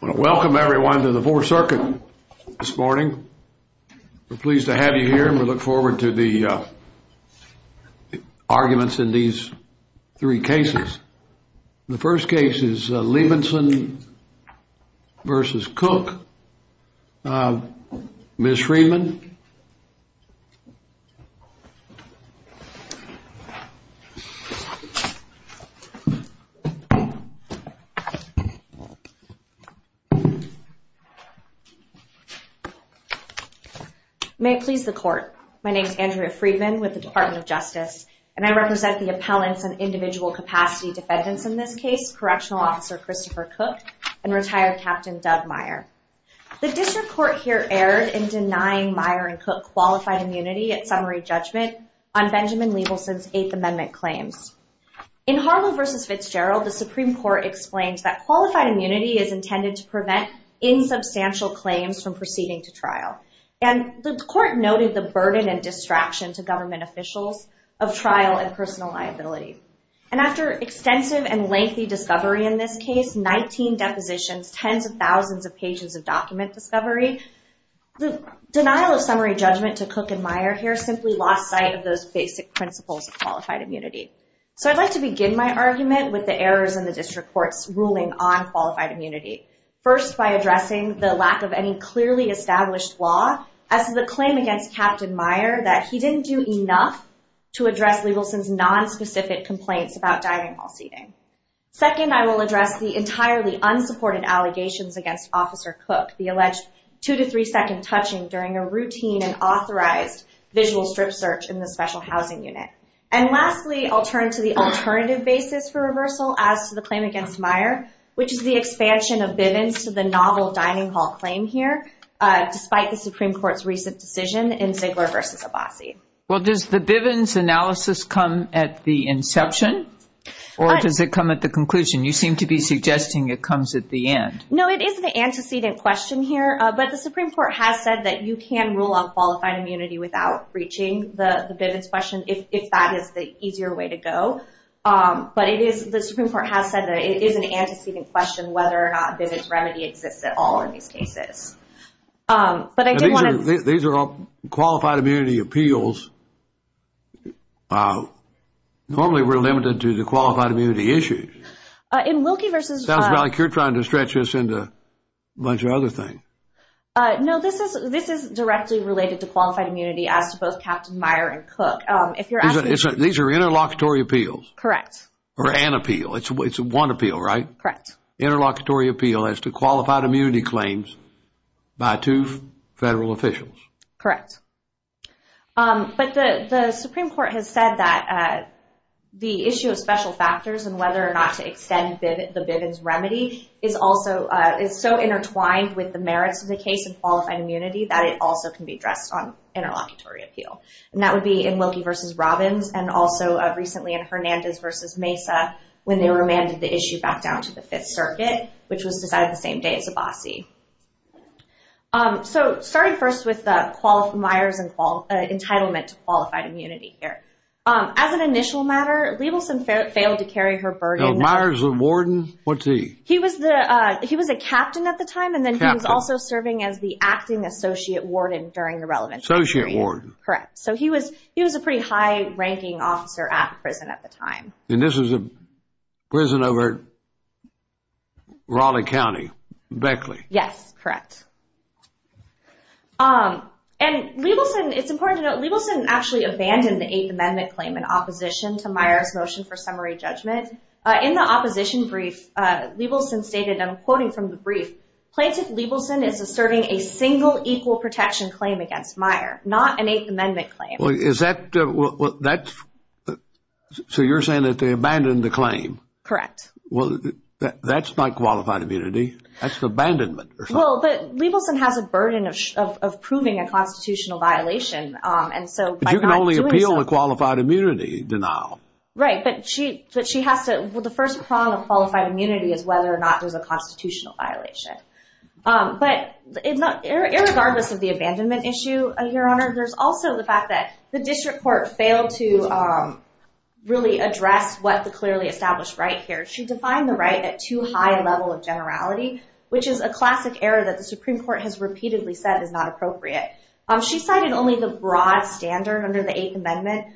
Welcome everyone to the 4th Circuit this morning. We're pleased to have you here and we look forward to the arguments in these three cases. The first case is Leibelson v. Cook. Ms. Friedman. May it please the Court. My name is Andrea Friedman with the Department of Justice and I represent the appellants and individual capacity defendants in this case, Correctional Officer Christopher Cook and retired Captain Doug Meyer. The District Court here erred in denying Meyer and Cook qualified immunity at summary judgment on Benjamin Leibelson's Eighth Amendment claims. In Harlow v. Fitzgerald, the Supreme Court explains that qualified immunity is intended to prevent insubstantial claims from proceeding to trial. And the Court noted the burden and distraction to government officials of trial and personal liability. And after extensive and lengthy discovery in this case, 19 depositions, tens of thousands of pages of document discovery, the denial of summary judgment to Cook and Meyer here simply lost sight of those basic principles of qualified immunity. So I'd like to begin my argument with the errors in the District Court's ruling on qualified immunity. First, by addressing the lack of any clearly established law as to the claim against Captain Meyer that he didn't do enough to address Leibelson's nonspecific complaints about dining hall seating. Second, I will address the entirely unsupported allegations against Officer Cook, the alleged 2-3 second touching during a routine and authorized visual strip search in the special housing unit. And lastly, I'll turn to the alternative basis for reversal as to the claim against Meyer, which is the expansion of Bivens to the novel dining hall claim here, despite the Supreme Court's recent decision in Ziegler v. Abbasi. Well, does the Bivens analysis come at the inception or does it come at the conclusion? You seem to be suggesting it comes at the end. No, it is an antecedent question here, but the Supreme Court has said that you can rule on qualified immunity without reaching the Bivens question if that is the easier way to go. But the Supreme Court has said that it is an antecedent question whether or not Bivens remedy exists at all in these cases. These are all qualified immunity appeals. Normally we're limited to the qualified immunity issues. Sounds like you're trying to stretch this into a bunch of other things. No, this is directly related to qualified immunity as to both Captain Meyer and Cook. These are interlocutory appeals? Correct. Or an appeal. It's one appeal, right? Correct. Interlocutory appeal as to qualified immunity claims by two federal officials. Correct. But the Supreme Court has said that the issue of special factors and whether or not to extend the Bivens remedy is so intertwined with the merits of the case of qualified immunity that it also can be addressed on interlocutory appeal. And that would be in Wilkie v. Robbins and also recently in Hernandez v. Mesa when they remanded the issue back down to the Fifth Circuit, which was decided the same day as Abbasi. So starting first with the Meyers entitlement to qualified immunity here. As an initial matter, Liebelson failed to carry her burden. Meyers was a warden? He was a captain at the time and then he was also serving as the acting associate warden during the relevant period. Associate warden. Correct. So he was a pretty high-ranking officer at prison at the time. And this was a prison over Raleigh County, Beckley. Yes, correct. And Liebelson, it's important to note, Liebelson actually abandoned the Eighth Amendment claim in opposition to Meyers' motion for summary judgment. In the opposition brief, Liebelson stated, and I'm quoting from the brief, Plaintiff Liebelson is asserting a single equal protection claim against Meyers, not an Eighth Amendment claim. Is that, so you're saying that they abandoned the claim? Correct. Well, that's not qualified immunity. That's abandonment. Well, Liebelson has a burden of proving a constitutional violation. But you can only appeal a qualified immunity denial. Right, but she has to, the first prong of qualified immunity is whether or not there's a constitutional violation. But regardless of the abandonment issue, Your Honor, there's also the fact that the district court failed to really address what the clearly established right here. She defined the right at too high a level of generality, which is a classic error that the Supreme Court has repeatedly said is not appropriate. She cited only the broad standard under the Eighth Amendment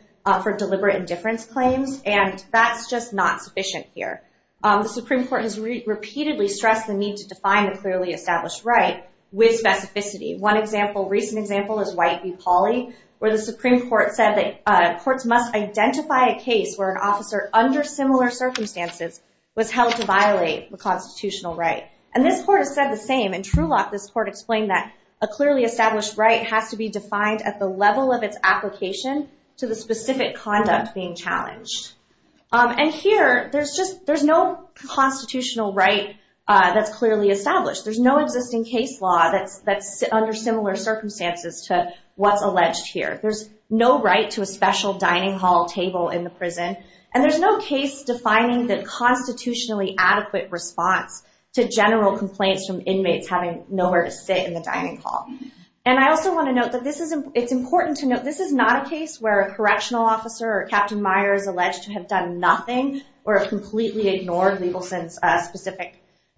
for deliberate indifference claims. And that's just not sufficient here. The Supreme Court has repeatedly stressed the need to define a clearly established right with specificity. One example, recent example, is White v. Pauley, where the Supreme Court said that courts must identify a case where an officer under similar circumstances was held to violate the constitutional right. And this court has said the same. In Trulock, this court explained that a clearly established right has to be defined at the level of its application to the specific conduct being challenged. And here, there's no constitutional right that's clearly established. There's no existing case law that's under similar circumstances to what's alleged here. There's no right to a special dining hall table in the prison. And there's no case defining the constitutionally adequate response to general complaints from inmates having nowhere to sit in the dining hall. And I also want to note that it's important to note this is not a case where a correctional officer or Captain Meyer is alleged to have done nothing or completely ignored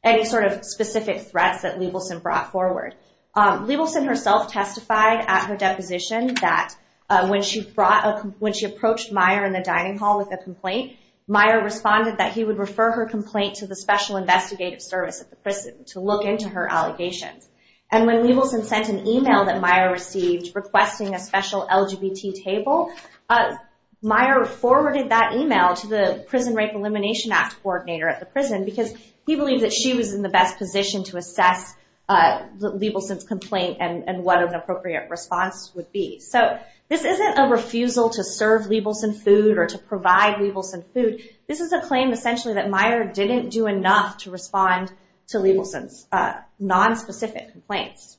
any sort of specific threats that Liebelson brought forward. Liebelson herself testified at her deposition that when she approached Meyer in the dining hall with a complaint, Meyer responded that he would refer her complaint to the Special Investigative Service at the prison to look into her allegations. And when Liebelson sent an email that Meyer received requesting a special LGBT table, Meyer forwarded that email to the Prison Rape Elimination Act coordinator at the prison because he believed that she was in the best position to assess Liebelson's complaint and what an appropriate response would be. So, this isn't a refusal to serve Liebelson food or to provide Liebelson food. This is a claim essentially that Meyer didn't do enough to respond to Liebelson's nonspecific complaints.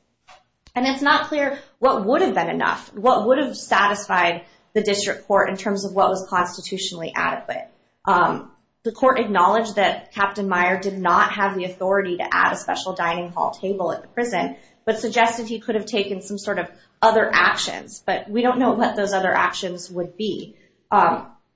And it's not clear what would have been enough, what would have satisfied the district court in terms of what was constitutionally adequate. The court acknowledged that Captain Meyer did not have the authority to add a special dining hall table at the prison, but suggested he could have taken some sort of other actions. But we don't know what those other actions would be.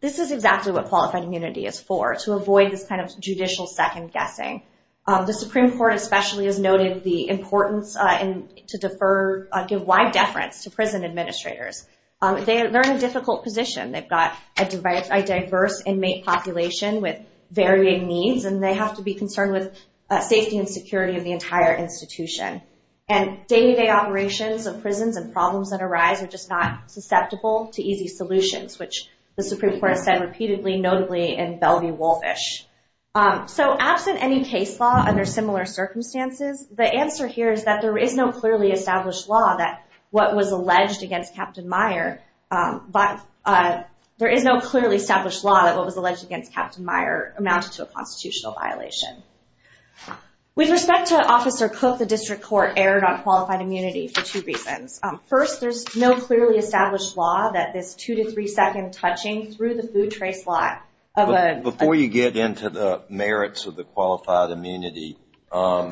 This is exactly what qualified immunity is for, to avoid this kind of judicial second-guessing. The Supreme Court especially has noted the importance to give wide deference to prison administrators. They're in a difficult position. They've got a diverse inmate population with varying needs, and they have to be concerned with safety and security of the entire institution. And day-to-day operations of prisons and problems that arise are just not susceptible to easy solutions, which the Supreme Court has said repeatedly, notably in Bellevue-Wolfish. So, absent any case law under similar circumstances, the answer here is that there is no clearly established law that what was alleged against Captain Meyer amounted to a constitutional violation. With respect to Officer Cook, the district court erred on qualified immunity for two reasons. First, there's no clearly established law that this two- to three-second touching through the food trace line of a— Before you get into the merits of the qualified immunity, as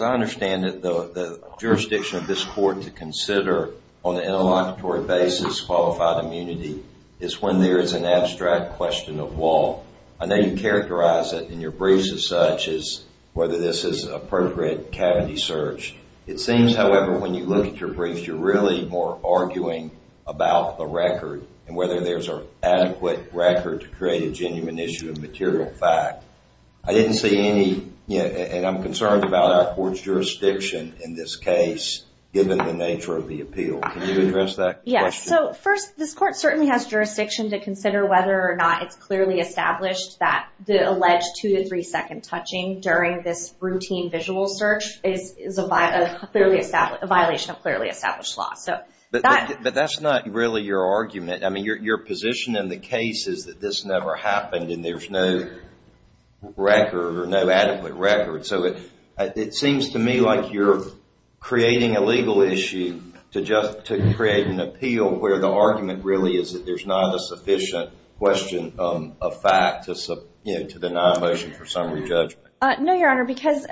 I understand it, the jurisdiction of this court to consider on an interlocutory basis qualified immunity is when there is an abstract question of law. I know you characterize it in your briefs as such, as whether this is an appropriate cavity search. It seems, however, when you look at your briefs, you're really more arguing about the record and whether there's an adequate record to create a genuine issue of material fact. I didn't see any—and I'm concerned about our court's jurisdiction in this case, given the nature of the appeal. Can you address that question? First, this court certainly has jurisdiction to consider whether or not it's clearly established that the alleged two- to three-second touching during this routine visual search is a violation of clearly established law. But that's not really your argument. I mean, your position in the case is that this never happened and there's no record or no adequate record. So it seems to me like you're creating a legal issue to create an appeal where the argument really is that there's not a sufficient question of fact to deny a motion for summary judgment. No, Your Honor, because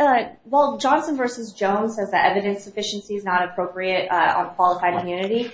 while Johnson v. Jones says that evidence sufficiency is not appropriate on qualified immunity,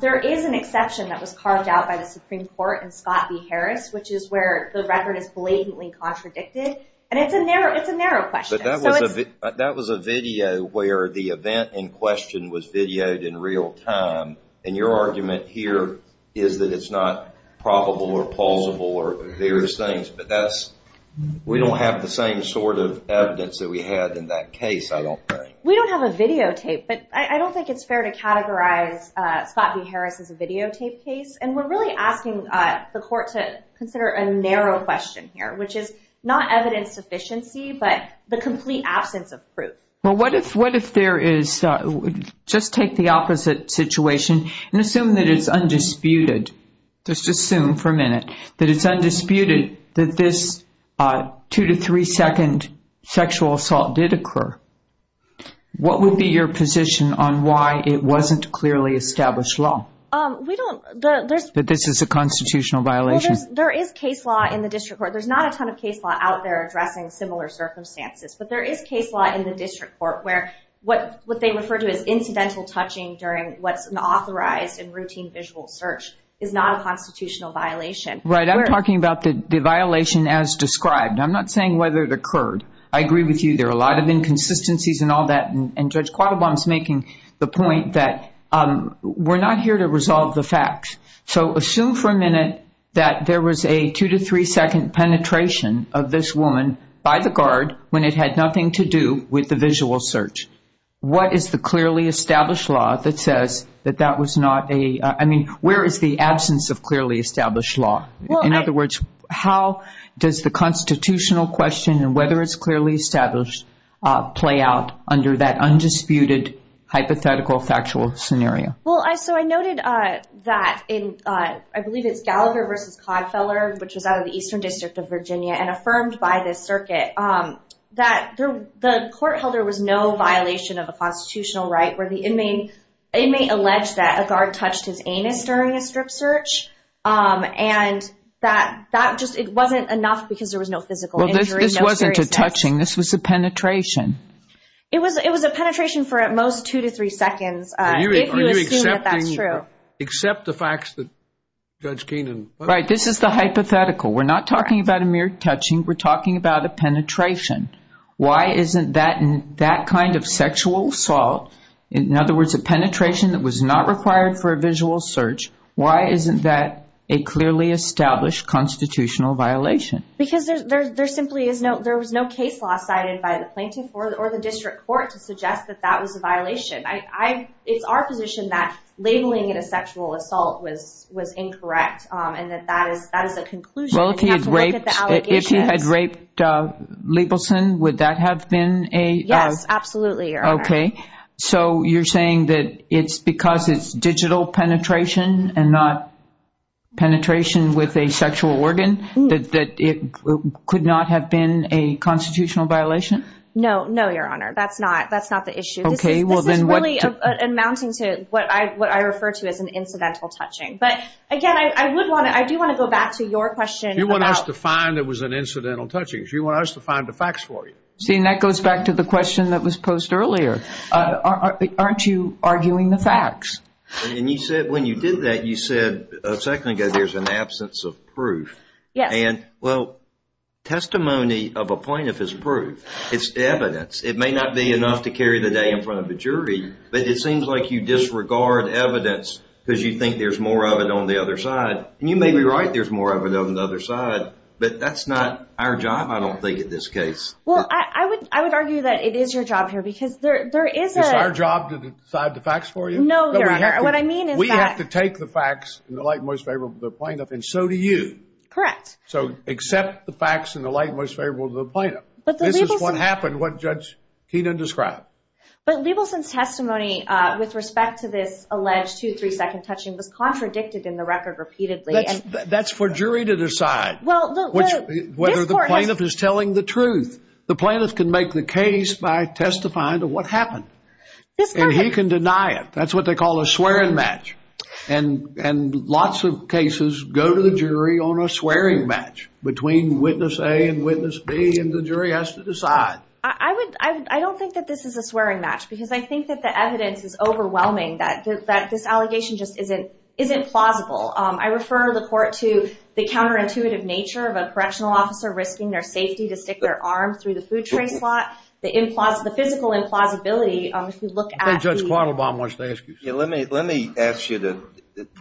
there is an exception that was carved out by the Supreme Court in Scott v. Harris, which is where the record is blatantly contradicted. And it's a narrow question. But that was a video where the event in question was videoed in real time. And your argument here is that it's not probable or plausible or various things. But that's—we don't have the same sort of evidence that we had in that case, I don't think. We don't have a videotape, but I don't think it's fair to categorize Scott v. Harris as a videotape case. And we're really asking the court to consider a narrow question here, which is not evidence sufficiency but the complete absence of proof. Well, what if there is—just take the opposite situation and assume that it's undisputed. Just assume for a minute that it's undisputed that this two- to three-second sexual assault did occur. What would be your position on why it wasn't clearly established law? We don't— But this is a constitutional violation. There is case law in the district court. There's not a ton of case law out there addressing similar circumstances. But there is case law in the district court where what they refer to as incidental touching during what's an authorized and routine visual search is not a constitutional violation. Right. I'm talking about the violation as described. I'm not saying whether it occurred. I agree with you. There are a lot of inconsistencies and all that. And Judge Quattlebaum's making the point that we're not here to resolve the facts. So assume for a minute that there was a two- to three-second penetration of this woman by the guard when it had nothing to do with the visual search. What is the clearly established law that says that that was not a—I mean, where is the absence of clearly established law? In other words, how does the constitutional question and whether it's clearly established play out under that undisputed hypothetical factual scenario? Well, so I noted that in—I believe it's Gallagher v. Codfeller, which was out of the Eastern District of Virginia, and affirmed by the circuit that the court held there was no violation of a constitutional right where the inmate alleged that a guard touched his anus during a strip search. And that just—it wasn't enough because there was no physical injury, no serious— Well, this wasn't a touching. This was a penetration. It was a penetration for at most two to three seconds, if you assume that that's true. Are you accepting—accept the facts that Judge Keenan— Right. This is the hypothetical. We're not talking about a mere touching. We're talking about a penetration. Why isn't that kind of sexual assault—in other words, a penetration that was not required for a visual search— why isn't that a clearly established constitutional violation? Because there simply is no—there was no case law cited by the plaintiff or the district court to suggest that that was a violation. I—it's our position that labeling it a sexual assault was incorrect and that that is a conclusion. Well, if he had raped— You have to look at the allegations. If he had raped Liebelson, would that have been a— Yes, absolutely, Your Honor. Okay. So you're saying that it's because it's digital penetration and not penetration with a sexual organ that it could not have been a constitutional violation? No. No, Your Honor. That's not—that's not the issue. Okay. Well, then what— This is really amounting to what I—what I refer to as an incidental touching. But, again, I would want to—I do want to go back to your question about— You want us to find it was an incidental touching. You want us to find the facts for you. See, and that goes back to the question that was posed earlier. Aren't you arguing the facts? And you said—when you did that, you said a second ago there's an absence of proof. Yes. And, well, testimony of a plaintiff is proof. It's evidence. It may not be enough to carry the day in front of a jury, but it seems like you disregard evidence because you think there's more of it on the other side. And you may be right, there's more of it on the other side, but that's not our job, I don't think, in this case. Well, I would—I would argue that it is your job here because there is a— It's our job to decide the facts for you? No, Your Honor. What I mean is that— We have to take the facts in the light most favorable to the plaintiff, and so do you. Correct. So accept the facts in the light most favorable to the plaintiff. But the Liebelson— This is what happened, what Judge Keenan described. But Liebelson's testimony with respect to this alleged two, three-second touching was contradicted in the record repeatedly. That's for jury to decide. Well, the— The plaintiff can make the case by testifying to what happened. And he can deny it. That's what they call a swearing match. And lots of cases go to the jury on a swearing match between witness A and witness B, and the jury has to decide. I would—I don't think that this is a swearing match because I think that the evidence is overwhelming, that this allegation just isn't—isn't plausible. I refer the court to the counterintuitive nature of a correctional officer risking their safety to stick their arm through the food tray slot. The implausible—the physical implausibility, if you look at the— I think Judge Kleinelbaum wants to ask you something. Yeah, let me—let me ask you to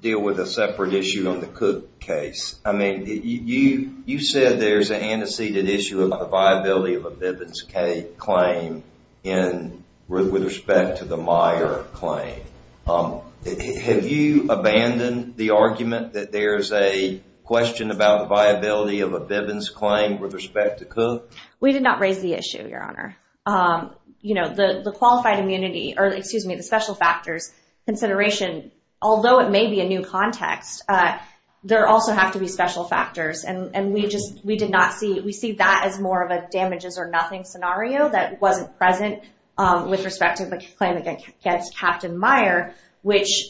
deal with a separate issue on the Cook case. I mean, you said there's an antecedent issue about the viability of a Bivens K claim in—with respect to the Meyer claim. Have you abandoned the argument that there's a question about the viability of a Bivens claim with respect to Cook? We did not raise the issue, Your Honor. You know, the qualified immunity—or, excuse me, the special factors consideration, although it may be a new context, there also have to be special factors. And we just—we did not see—we see that as more of a damages-or-nothing scenario that wasn't present with respect to the claim against Captain Meyer, which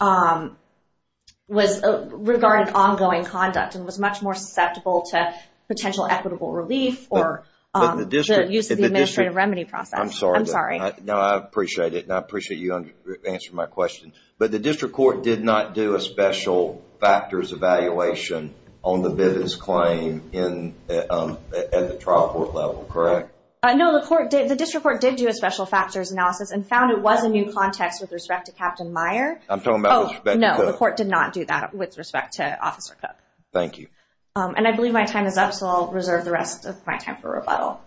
was—regarding ongoing conduct and was much more susceptible to potential equitable relief or the use of the administrative remedy process. I'm sorry. I'm sorry. No, I appreciate it, and I appreciate you answering my question. But the district court did not do a special factors evaluation on the Bivens claim in—at the trial court level, correct? No, the court did—the district court did do a special factors analysis and found it was a new context with respect to Captain Meyer. I'm talking about with respect to Cook. Oh, no. The court did not do that with respect to Officer Cook. Thank you. And I believe my time is up, so I'll reserve the rest of my time for rebuttal.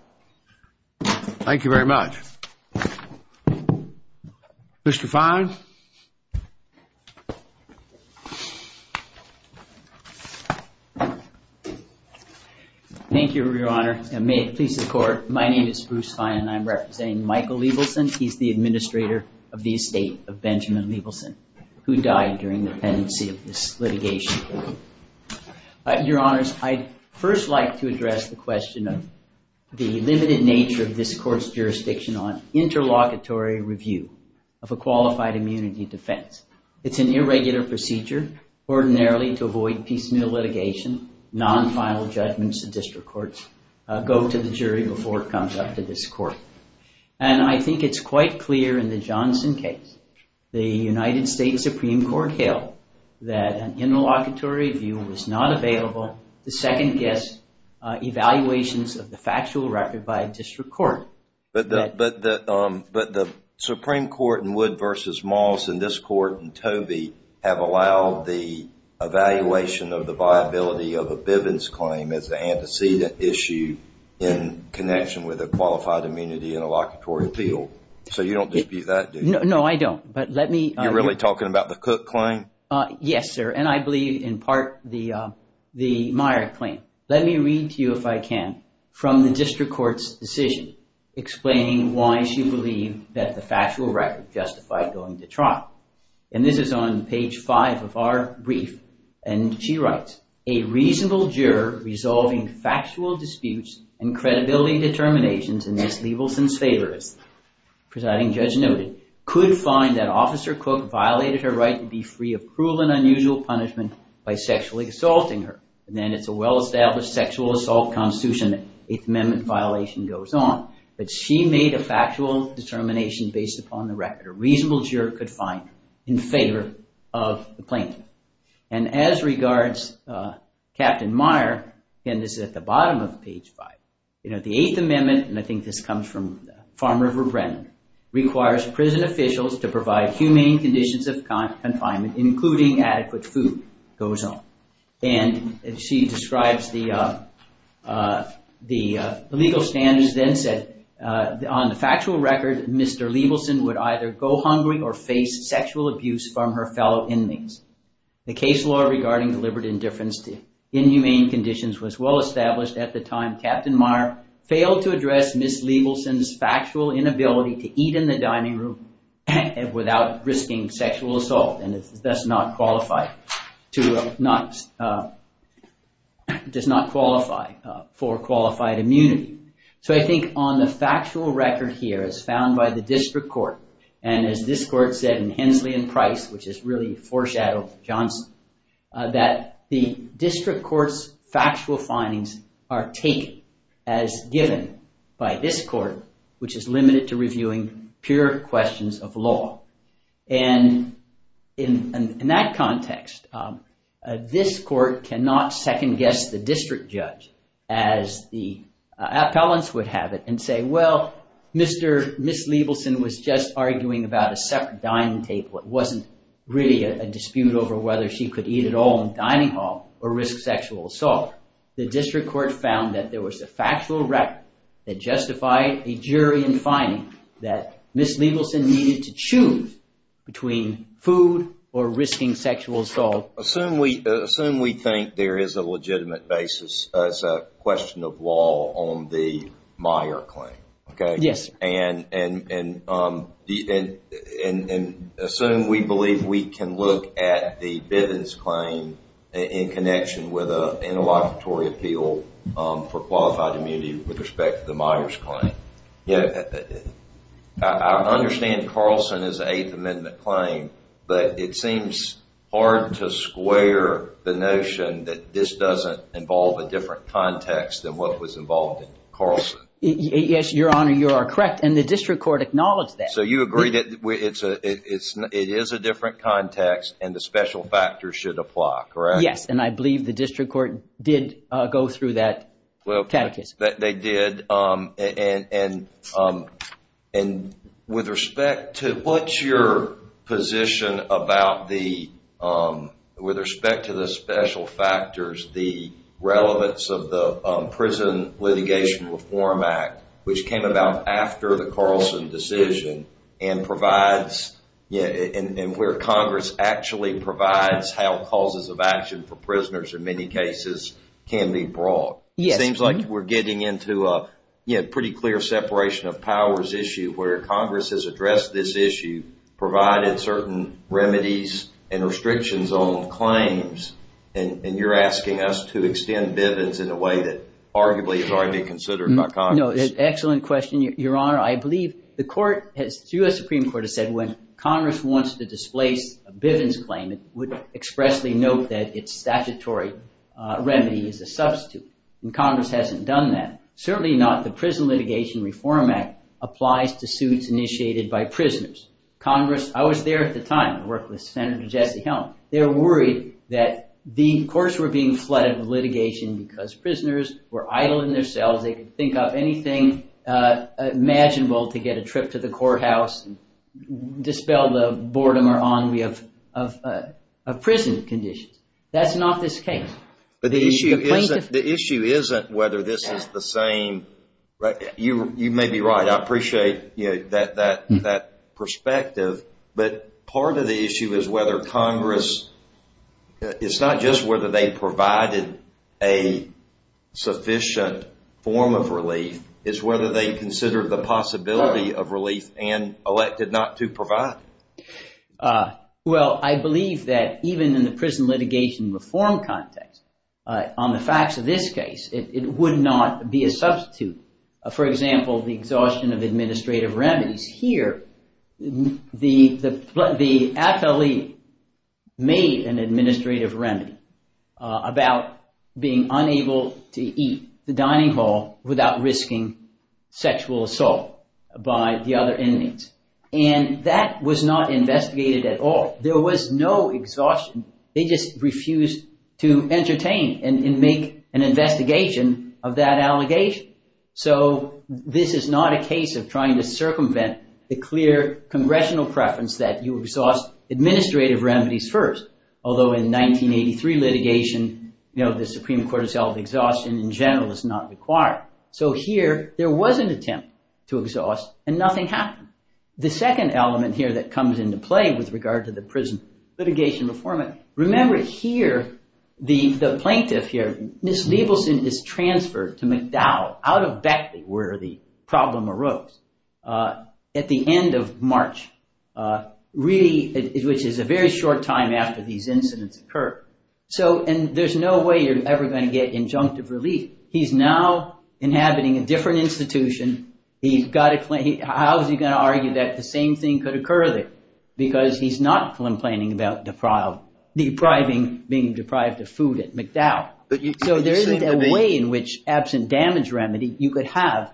Thank you very much. Mr. Fine. Thank you, Your Honor. And may it please the Court, my name is Bruce Fine, and I'm representing Michael Liebelson. He's the administrator of the estate of Benjamin Liebelson, who died during the pendency of this litigation. Your Honors, I'd first like to address the question of the limited nature of this Court's jurisdiction on interlocutory review of a qualified immunity defense. It's an irregular procedure, ordinarily to avoid piecemeal litigation, non-final judgments of district courts go to the jury before it comes up to this Court. And I think it's quite clear in the Johnson case, the United States Supreme Court held that an interlocutory review was not available to second-guess evaluations of the factual record by a district court. But the Supreme Court in Wood v. Moss and this Court in Tobey have allowed the evaluation of the viability of a Bivens claim as an antecedent issue in connection with a qualified immunity interlocutory appeal. So you don't dispute that, do you? No, I don't. You're really talking about the Cook claim? Yes, sir. And I believe in part the Meyer claim. Let me read to you, if I can, from the district court's decision explaining why she believed that the factual record justified going to trial. And this is on page 5 of our brief. And she writes, A reasonable juror resolving factual disputes and credibility determinations in Ms. Leibelson's favor, as the presiding judge noted, could find that Officer Cook violated her right to be free of cruel and unusual punishment by sexually assaulting her. And then it's a well-established sexual assault constitution that an Eighth Amendment violation goes on. But she made a factual determination based upon the record. A reasonable juror could find in favor of the plaintiff. And as regards Captain Meyer, and this is at the bottom of page 5, you know, the Eighth Amendment, and I think this comes from Farm River Brennan, requires prison officials to provide humane conditions of confinement, including adequate food, goes on. And she describes the legal standards then said, On the factual record, Mr. Leibelson would either go hungry or face sexual abuse from her fellow inmates. The case law regarding deliberate indifference to inhumane conditions was well-established at the time. Captain Meyer failed to address Ms. Leibelson's factual inability to eat in the dining room without risking sexual assault and thus does not qualify for qualified immunity. So I think on the factual record here, as found by the district court, and as this court said in Hensley and Price, which has really foreshadowed Johnson, that the district court's factual findings are taken as given by this court, which is limited to reviewing pure questions of law. And in that context, this court cannot second-guess the district judge, as the appellants would have it, and say, Well, Ms. Leibelson was just arguing about a separate dining table. It wasn't really a dispute over whether she could eat at all in the dining hall or risk sexual assault. The district court found that there was a factual record that justified a jury in finding that Ms. Leibelson needed to choose between food or risking sexual assault. Assume we think there is a legitimate basis as a question of law on the Meyer claim. Yes. And assume we believe we can look at the Bivens claim in connection with an interlocutory appeal for qualified immunity with respect to the Myers claim. I understand Carlson is an Eighth Amendment claim, but it seems hard to square the notion that this doesn't involve a different context than what was involved in Carlson. Yes, Your Honor, you are correct, and the district court acknowledged that. So you agree that it is a different context and the special factors should apply, correct? Yes, and I believe the district court did go through that catechism. Yes, they did. With respect to the special factors, the relevance of the Prison Litigation Reform Act, which came about after the Carlson decision, and where Congress actually provides how causes of action for prisoners in many cases can be brought. Yes. It seems like we're getting into a pretty clear separation of powers issue where Congress has addressed this issue, provided certain remedies and restrictions on claims, and you're asking us to extend Bivens in a way that arguably has already been considered by Congress. No, excellent question, Your Honor. I believe the court has, the U.S. Supreme Court has said when Congress wants to displace a Bivens claim, it would expressly note that its statutory remedy is a substitute, and Congress hasn't done that. Certainly not the Prison Litigation Reform Act applies to suits initiated by prisoners. I was there at the time. I worked with Senator Jesse Helm. They were worried that the courts were being flooded with litigation because prisoners were idle in their cells. They could think up anything imaginable to get a trip to the courthouse and dispel the boredom or ennui of prison conditions. That's not this case. The issue isn't whether this is the same. You may be right. I appreciate that perspective, but part of the issue is whether Congress, it's not just whether they provided a sufficient form of relief. It's whether they considered the possibility of relief and elected not to provide it. Well, I believe that even in the prison litigation reform context, on the facts of this case, it would not be a substitute. For example, the exhaustion of administrative remedies. Here, the athlete made an administrative remedy about being unable to eat the dining hall without risking sexual assault by the other inmates. That was not investigated at all. There was no exhaustion. They just refused to entertain and make an investigation of that allegation. This is not a case of trying to circumvent the clear congressional preference that you exhaust administrative remedies first, although in 1983 litigation, the Supreme Court has held exhaustion in general is not required. So here, there was an attempt to exhaust and nothing happened. The second element here that comes into play with regard to the prison litigation reform. Remember here, the plaintiff here, Ms. Liebelson is transferred to McDowell out of Beckley where the problem arose at the end of March, which is a very short time after these incidents occurred. So there's no way you're ever going to get injunctive relief. He's now inhabiting a different institution. How is he going to argue that the same thing could occur there? Because he's not complaining about depriving, being deprived of food at McDowell. So there isn't a way in which absent damage remedy, you could have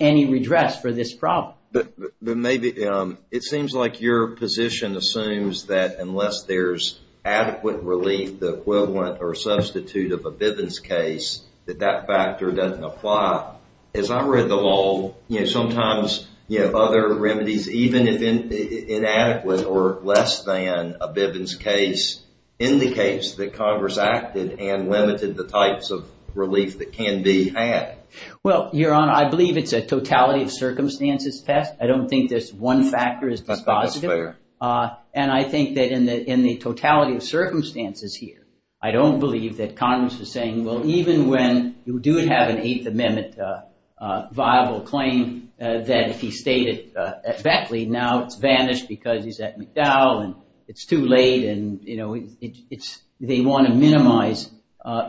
any redress for this problem. It seems like your position assumes that unless there's adequate relief, the equivalent or substitute of a Bivens case, that that factor doesn't apply. As I read the law, sometimes other remedies, even if inadequate or less than a Bivens case, indicates that Congress acted and limited the types of relief that can be had. Well, Your Honor, I believe it's a totality of circumstances test. I don't think this one factor is dispositive. And I think that in the totality of circumstances here, I don't believe that Congress is saying, well, even when you do have an Eighth Amendment viable claim that if he stayed at Beckley, now it's vanished because he's at McDowell and it's too late. And they want to minimize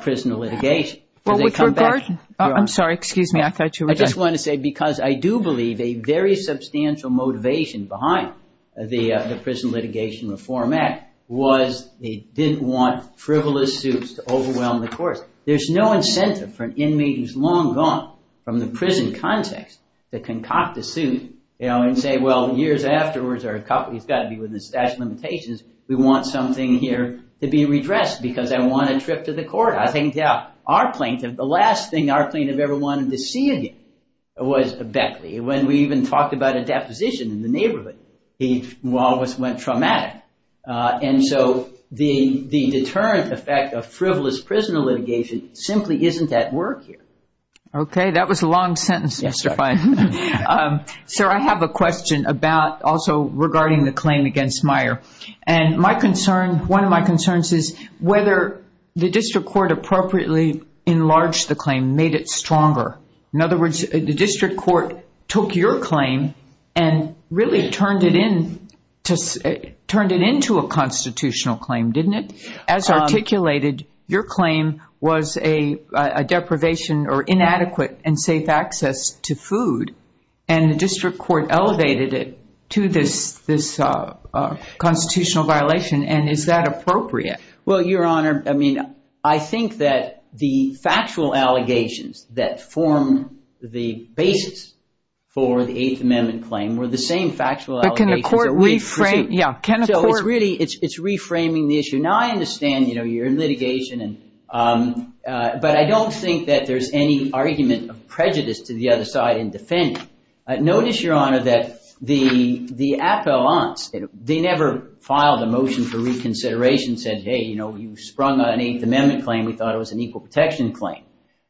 prison litigation. I'm sorry. Excuse me. I just want to say, because I do believe a very substantial motivation behind the Prison Litigation Reform Act was they didn't want frivolous suits to overwhelm the courts. There's no incentive for an inmate who's long gone from the prison context to concoct a suit and say, well, years afterwards, he's got to be within the statute of limitations. We want something here to be redressed because I want a trip to the court. I think, yeah, our plaintiff, the last thing our plaintiff ever wanted to see again was Beckley. When we even talked about a deposition in the neighborhood, he almost went traumatic. And so the deterrent effect of frivolous prison litigation simply isn't at work here. Okay. That was a long sentence, Mr. Fine. Sir, I have a question about also regarding the claim against Meyer. And my concern, one of my concerns is whether the district court appropriately enlarged the claim, made it stronger. In other words, the district court took your claim and really turned it into a constitutional claim, didn't it? As articulated, your claim was a deprivation or inadequate and safe access to food. And the district court elevated it to this constitutional violation. And is that appropriate? Well, Your Honor, I mean, I think that the factual allegations that form the basis for the Eighth Amendment claim were the same factual allegations. But can a court reframe? Yeah. Can a court? Well, really, it's reframing the issue. Now, I understand, you know, you're in litigation. But I don't think that there's any argument of prejudice to the other side in defending. Notice, Your Honor, that the appellants, they never filed a motion for reconsideration and said, hey, you know, you sprung on an Eighth Amendment claim. We thought it was an equal protection claim.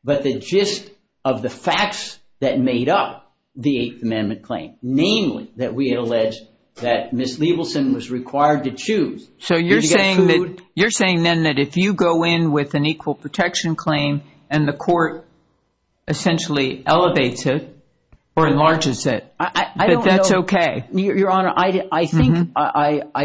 But the gist of the facts that made up the Eighth Amendment claim, namely that we had alleged that Ms. Leibelson was required to choose. So you're saying that you're saying then that if you go in with an equal protection claim and the court essentially elevates it or enlarges it, that that's OK? Your Honor, I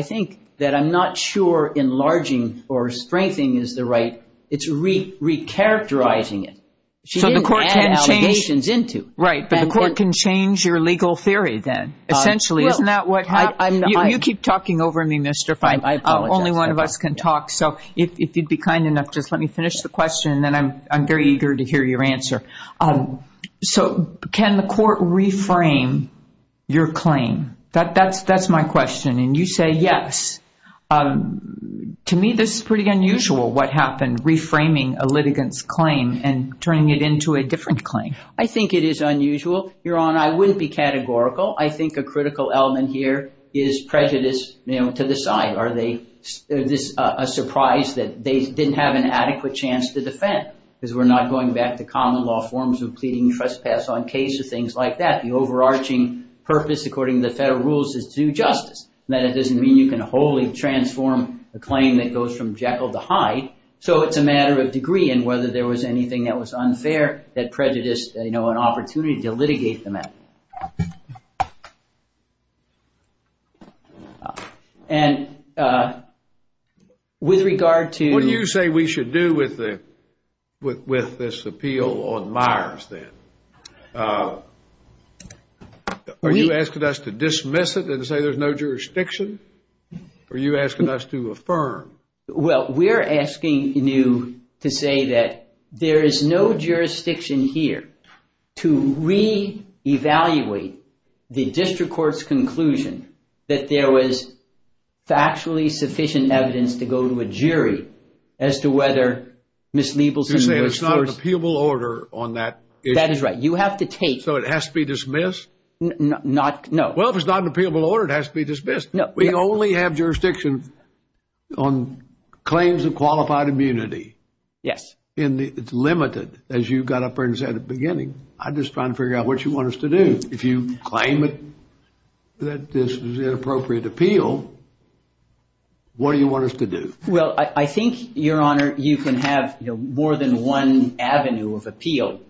think that I'm not sure enlarging or strengthening is the right, it's recharacterizing it. So the court can change. She didn't add allegations into. Right. But the court can change your legal theory then, essentially. Isn't that what happened? You keep talking over me, Mr. Fein. I apologize. Only one of us can talk. So if you'd be kind enough, just let me finish the question, and then I'm very eager to hear your answer. So can the court reframe your claim? That's my question. And you say yes. To me, this is pretty unusual, what happened, reframing a litigant's claim and turning it into a different claim. I think it is unusual. Your Honor, I wouldn't be categorical. I think a critical element here is prejudice, you know, to the side. Is this a surprise that they didn't have an adequate chance to defend? Because we're not going back to common law forms of pleading trespass on cases, things like that. The overarching purpose, according to the federal rules, is to do justice. That doesn't mean you can wholly transform a claim that goes from Jekyll to Hyde. So it's a matter of degree and whether there was anything that was unfair that prejudiced, you know, an opportunity to litigate the matter. And with regard to... What do you say we should do with this appeal on Myers then? Are you asking us to dismiss it and say there's no jurisdiction? Are you asking us to affirm? Well, we're asking you to say that there is no jurisdiction here to re-evaluate the district court's conclusion that there was factually sufficient evidence to go to a jury as to whether Ms. Leibelson... You're saying it's not an appealable order on that issue? That is right. You have to take... So it has to be dismissed? No. Well, if it's not an appealable order, it has to be dismissed. We only have jurisdiction on claims of qualified immunity. Yes. It's limited, as you got up there and said at the beginning. I'm just trying to figure out what you want us to do. If you claim that this was an inappropriate appeal, what do you want us to do? Well, I think, Your Honor, you can have more than one avenue of appeal.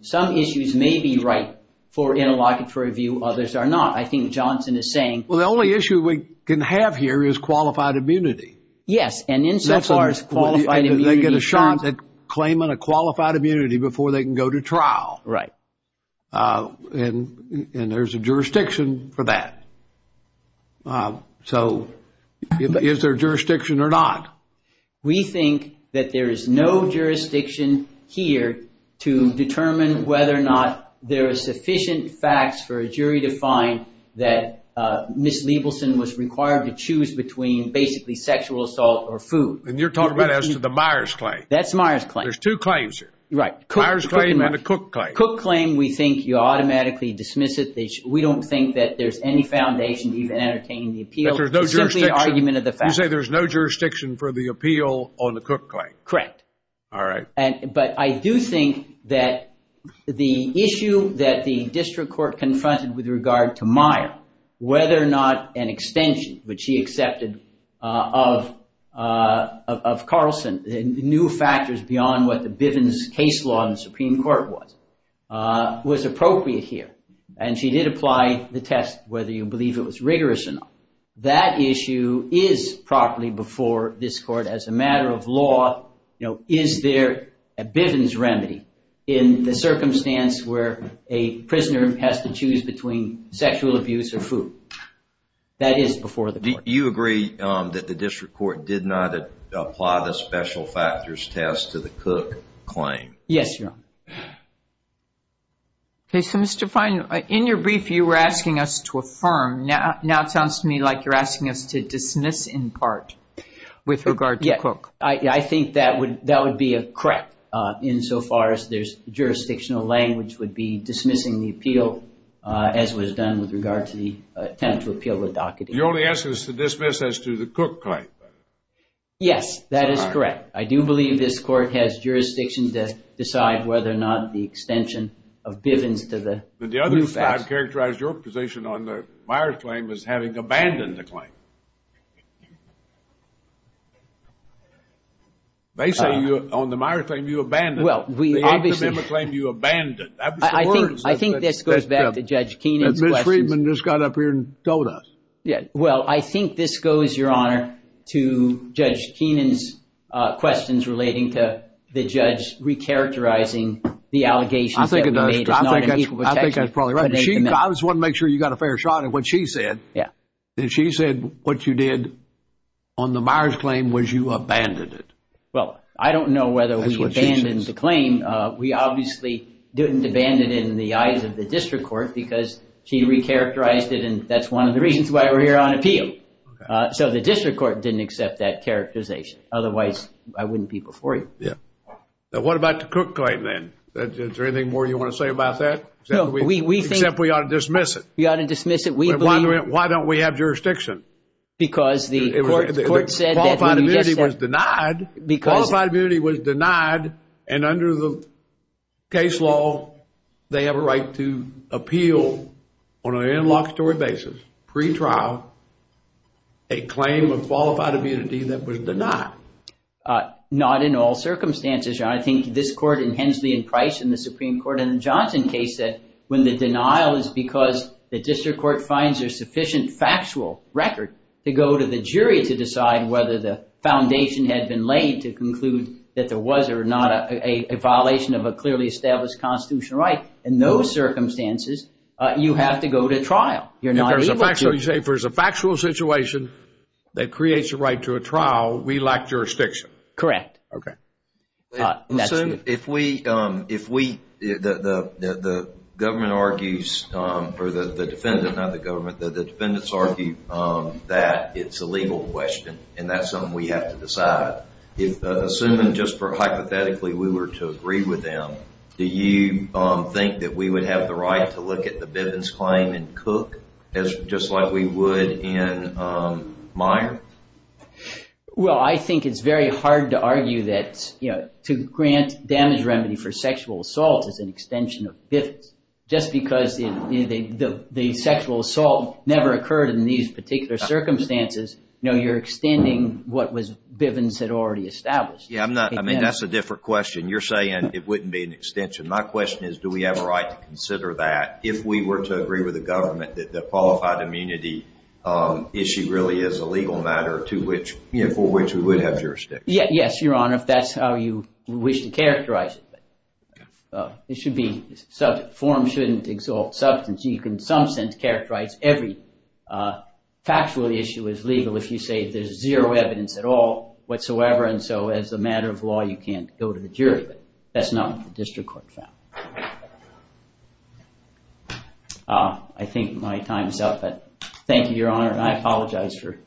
Some issues may be right for interlocutory review. Others are not. I think Johnson is saying... Well, the only issue we can have here is qualified immunity. Yes, and insofar as qualified immunity... They get a shot at claiming a qualified immunity before they can go to trial. Right. And there's a jurisdiction for that. So is there jurisdiction or not? We think that there is no jurisdiction here to determine whether or not there are sufficient facts for a jury to find that Ms. Liebelson was required to choose between basically sexual assault or food. And you're talking about as to the Myers claim. That's the Myers claim. There's two claims here. Right. Myers claim and the Cook claim. Cook claim, we think you automatically dismiss it. We don't think that there's any foundation even entertaining the appeal. That there's no jurisdiction? It's simply an argument of the facts. You say there's no jurisdiction for the appeal on the Cook claim. Correct. All right. But I do think that the issue that the district court confronted with regard to Meyer, whether or not an extension, which she accepted of Carlson, new factors beyond what the Bivens case law in the Supreme Court was, was appropriate here. And she did apply the test whether you believe it was rigorous enough. That issue is properly before this court as a matter of law. Is there a Bivens remedy in the circumstance where a prisoner has to choose between sexual abuse or food? That is before the court. Do you agree that the district court did not apply the special factors test to the Cook claim? Yes, Your Honor. Okay. So, Mr. Fine, in your brief, you were asking us to affirm. Now it sounds to me like you're asking us to dismiss in part with regard to Cook. Yes. I think that would be correct insofar as there's jurisdictional language would be dismissing the appeal as was done with regard to the attempt to appeal the docketing. You're only asking us to dismiss as to the Cook claim. Yes, that is correct. I do believe this court has jurisdiction to decide whether or not the extension of Bivens to the new facts. I don't think I've characterized your position on the Myers claim as having abandoned the claim. They say you, on the Myers claim, you abandoned it. Well, we obviously. The optimum claim, you abandoned it. I think this goes back to Judge Keenan's questions. Ms. Friedman just got up here and told us. Yes. Well, I think this goes, Your Honor, to Judge Keenan's questions relating to the judge recharacterizing the allegations that we made as not in equal protection. I think that's probably right. I just wanted to make sure you got a fair shot at what she said. Yes. She said what you did on the Myers claim was you abandoned it. Well, I don't know whether we abandoned the claim. We obviously didn't abandon it in the eyes of the district court because she recharacterized it, and that's one of the reasons why we're here on appeal. So the district court didn't accept that characterization. Otherwise, I wouldn't be before you. Yes. What about the Cook claim, then? Is there anything more you want to say about that? No. Except we ought to dismiss it. We ought to dismiss it. We believe- Why don't we have jurisdiction? Because the court said that- Qualified immunity was denied. Because- Qualified immunity was denied, and under the case law, they have a right to appeal on an inlocutory basis, pretrial, a claim of qualified immunity that was denied. Not in all circumstances, Your Honor. I think this court and Hensley and Price in the Supreme Court in the Johnson case said when the denial is because the district court finds there's sufficient factual record to go to the jury to decide whether the foundation had been laid to conclude that there was or not a violation of a clearly established constitutional right, in those circumstances, you have to go to trial. You're not- If there's a factual situation that creates a right to a trial, we lack jurisdiction. Correct. Okay. If we- The government argues, or the defendant, not the government, the defendants argue that it's a legal question and that's something we have to decide. Assuming just for hypothetically we were to agree with them, do you think that we would have the right to look at the Bivens claim in Cook just like we would in Meyer? Well, I think it's very hard to argue that to grant damage remedy for sexual assault is an extension of Bivens. Just because the sexual assault never occurred in these particular circumstances, you're extending what Bivens had already established. I mean, that's a different question. You're saying it wouldn't be an extension. My question is do we have a right to consider that if we were to agree with the government that the qualified immunity issue really is a legal matter for which we would have jurisdiction? Yes, Your Honor, if that's how you wish to characterize it. It should be subject. Form shouldn't exalt substance. You can in some sense characterize every factual issue as legal if you say there's zero evidence at all whatsoever and so as a matter of law you can't go to the jury. But that's not what the district court found. I think my time is up, but thank you, Your Honor, and I apologize for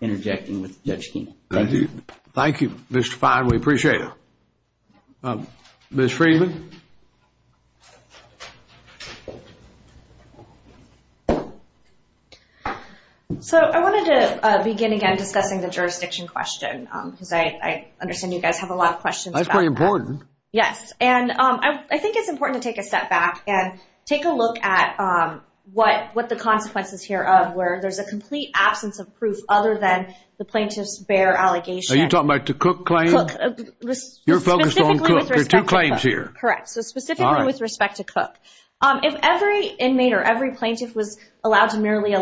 interjecting with Judge Keenan. Thank you. Thank you, Mr. Fein. We appreciate it. Ms. Friedman? So I wanted to begin again discussing the jurisdiction question because I understand you guys have a lot of questions about that. That's pretty important. Yes, and I think it's important to take a step back and take a look at what the consequences here of where there's a complete absence of proof other than the plaintiff's bare allegation. Are you talking about the Cook claim? You're focused on Cook. There are two claims here. Correct. So specifically with respect to Cook. If every inmate or every plaintiff was allowed to merely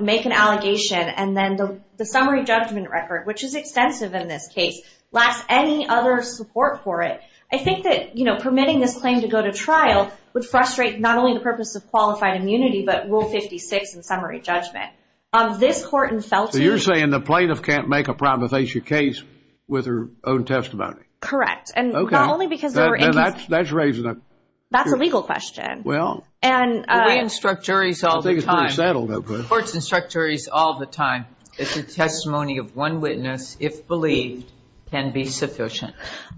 make an allegation and then the I think that, you know, permitting this claim to go to trial would frustrate not only the purpose of qualified immunity, but Rule 56 in summary judgment. Of this court in Felton. So you're saying the plaintiff can't make a primathesia case with her own testimony? Correct. Okay. And not only because they were in case. That's raising a... That's a legal question. Well... And... We instruct juries all the time. I think it's pretty settled. The court instructs juries all the time that the testimony of one witness, if believed, can be sufficient.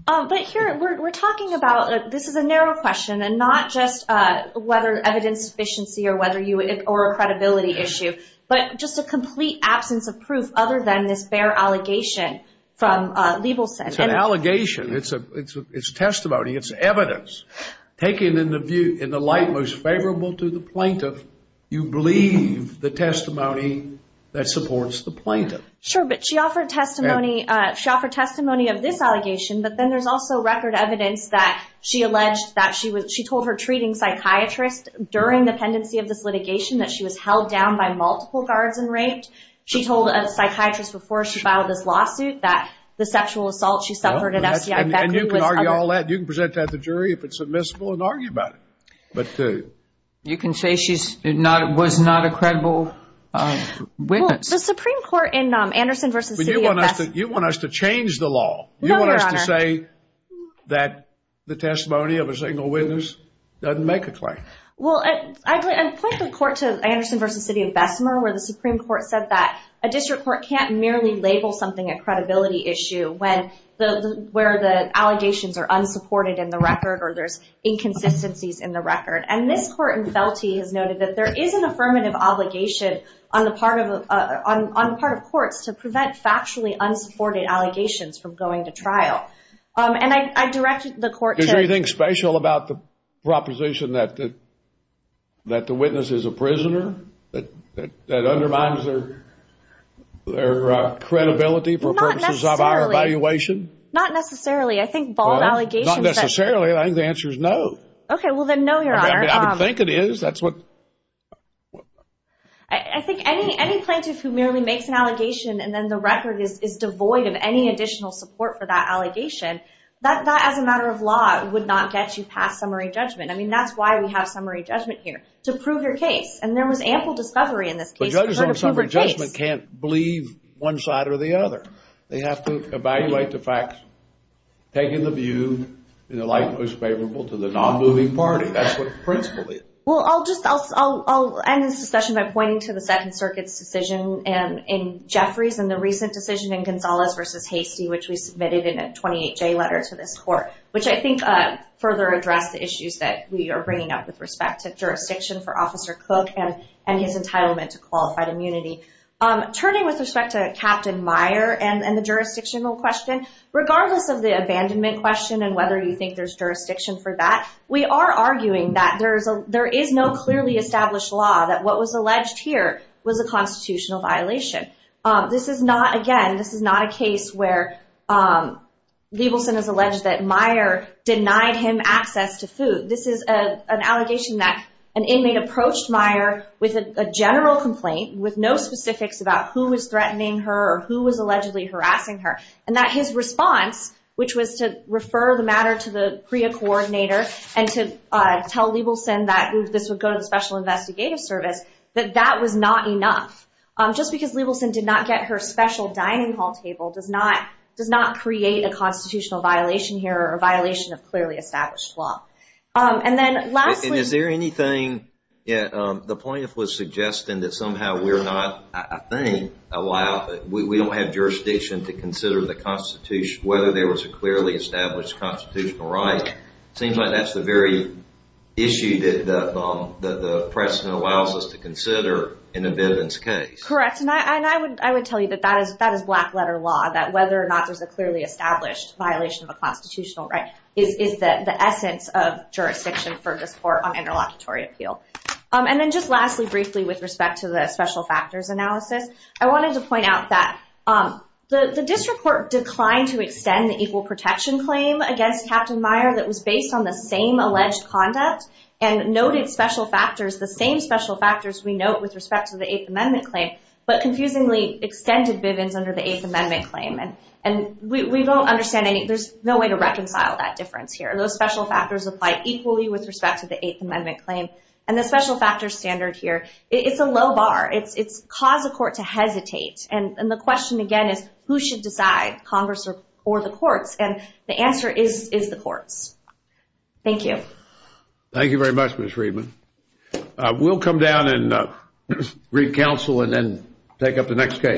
But here we're talking about... This is a narrow question and not just whether evidence sufficiency or whether you... Or a credibility issue. But just a complete absence of proof other than this bare allegation from Liebelson. It's an allegation. It's a testimony. It's evidence. Taken in the view... In the light most favorable to the plaintiff, you believe the testimony that supports the plaintiff. Sure. But she offered testimony of this allegation. But then there's also record evidence that she alleged that she was... She told her treating psychiatrist during the pendency of this litigation that she was held down by multiple guards and raped. She told a psychiatrist before she filed this lawsuit that the sexual assault she suffered at FBI Beckley was... And you can argue all that. You can present that to the jury if it's admissible and argue about it. But... You can say she was not a credible witness. The Supreme Court in Anderson v. City of Bessemer... But you want us to change the law. No, Your Honor. You want us to say that the testimony of a single witness doesn't make a claim. Well, I point the court to Anderson v. City of Bessemer where the Supreme Court said that a district court can't merely label something a credibility issue when the... Where the allegations are unsupported in the record or there's inconsistencies in the record. And this court in Felty has noted that there is an affirmative obligation on the part of... On part of courts to prevent factually unsupported allegations from going to trial. And I directed the court to... Is there anything special about the proposition that the witness is a prisoner? That undermines their credibility for purposes of our evaluation? Not necessarily. I think bald allegations... Not necessarily. I think the answer is no. Okay. Well, then no, Your Honor. I think it is. That's what... I think any plaintiff who merely makes an allegation and then the record is devoid of any additional support for that allegation, that as a matter of law would not get you past summary judgment. I mean, that's why we have summary judgment here, to prove your case. And there was ample discovery in this case... But judges on summary judgment can't believe one side or the other. They have to evaluate the facts, taking the view in the light that was favorable to the non-moving party. That's what the principle is. Well, I'll just... I'll end this discussion by pointing to the Second Circuit's decision in Jeffries and the recent decision in Gonzales v. Hastie, which we submitted in a 28-J letter to this court, which I think further addressed the issues that we are bringing up with respect to jurisdiction for Officer Cook and his entitlement to qualified immunity. Turning with respect to Captain Meyer and the jurisdictional question, regardless of the abandonment question and whether you think there's jurisdiction for that, we are arguing that there is no clearly established law that what was alleged here was a constitutional violation. This is not... Again, this is not a case where Liebelson has alleged that Meyer denied him access to food. This is an allegation that an inmate approached Meyer with a general complaint with no specifics about who was threatening her or who was allegedly harassing her, and that his response, which was to refer the matter to the PREA coordinator and to tell Liebelson that this would go to the Special Investigative Service, that that was not enough. Just because Liebelson did not get her special dining hall table does not create a constitutional violation here or a violation of clearly established law. And then lastly... And is there anything... The plaintiff was suggesting that somehow we're not, I think, allowed... We don't have jurisdiction to consider the Constitution, whether there was a clearly established constitutional right. It seems like that's the very issue that the precedent allows us to consider in a Bivens case. Correct. And I would tell you that that is black letter law, that whether or not there's a clearly established violation of a constitutional right is the essence of jurisdiction for this court on interlocutory appeal. And then just lastly, briefly, with respect to the special factors analysis, I wanted to point out that the district court declined to extend the equal protection claim against Captain Meyer that was based on the same alleged conduct and noted special factors, the same special factors we note with respect to the Eighth Amendment claim, but confusingly extended Bivens under the Eighth Amendment claim. And we don't understand any... There's no way to reconcile that difference here. Those special factors apply equally with respect to the Eighth Amendment claim. And the special factors standard here, it's a low bar. It's caused the court to hesitate. And the question, again, is who should decide, Congress or the courts? And the answer is the courts. Thank you. Thank you very much, Ms. Friedman. We'll come down and read counsel and then take up the next case.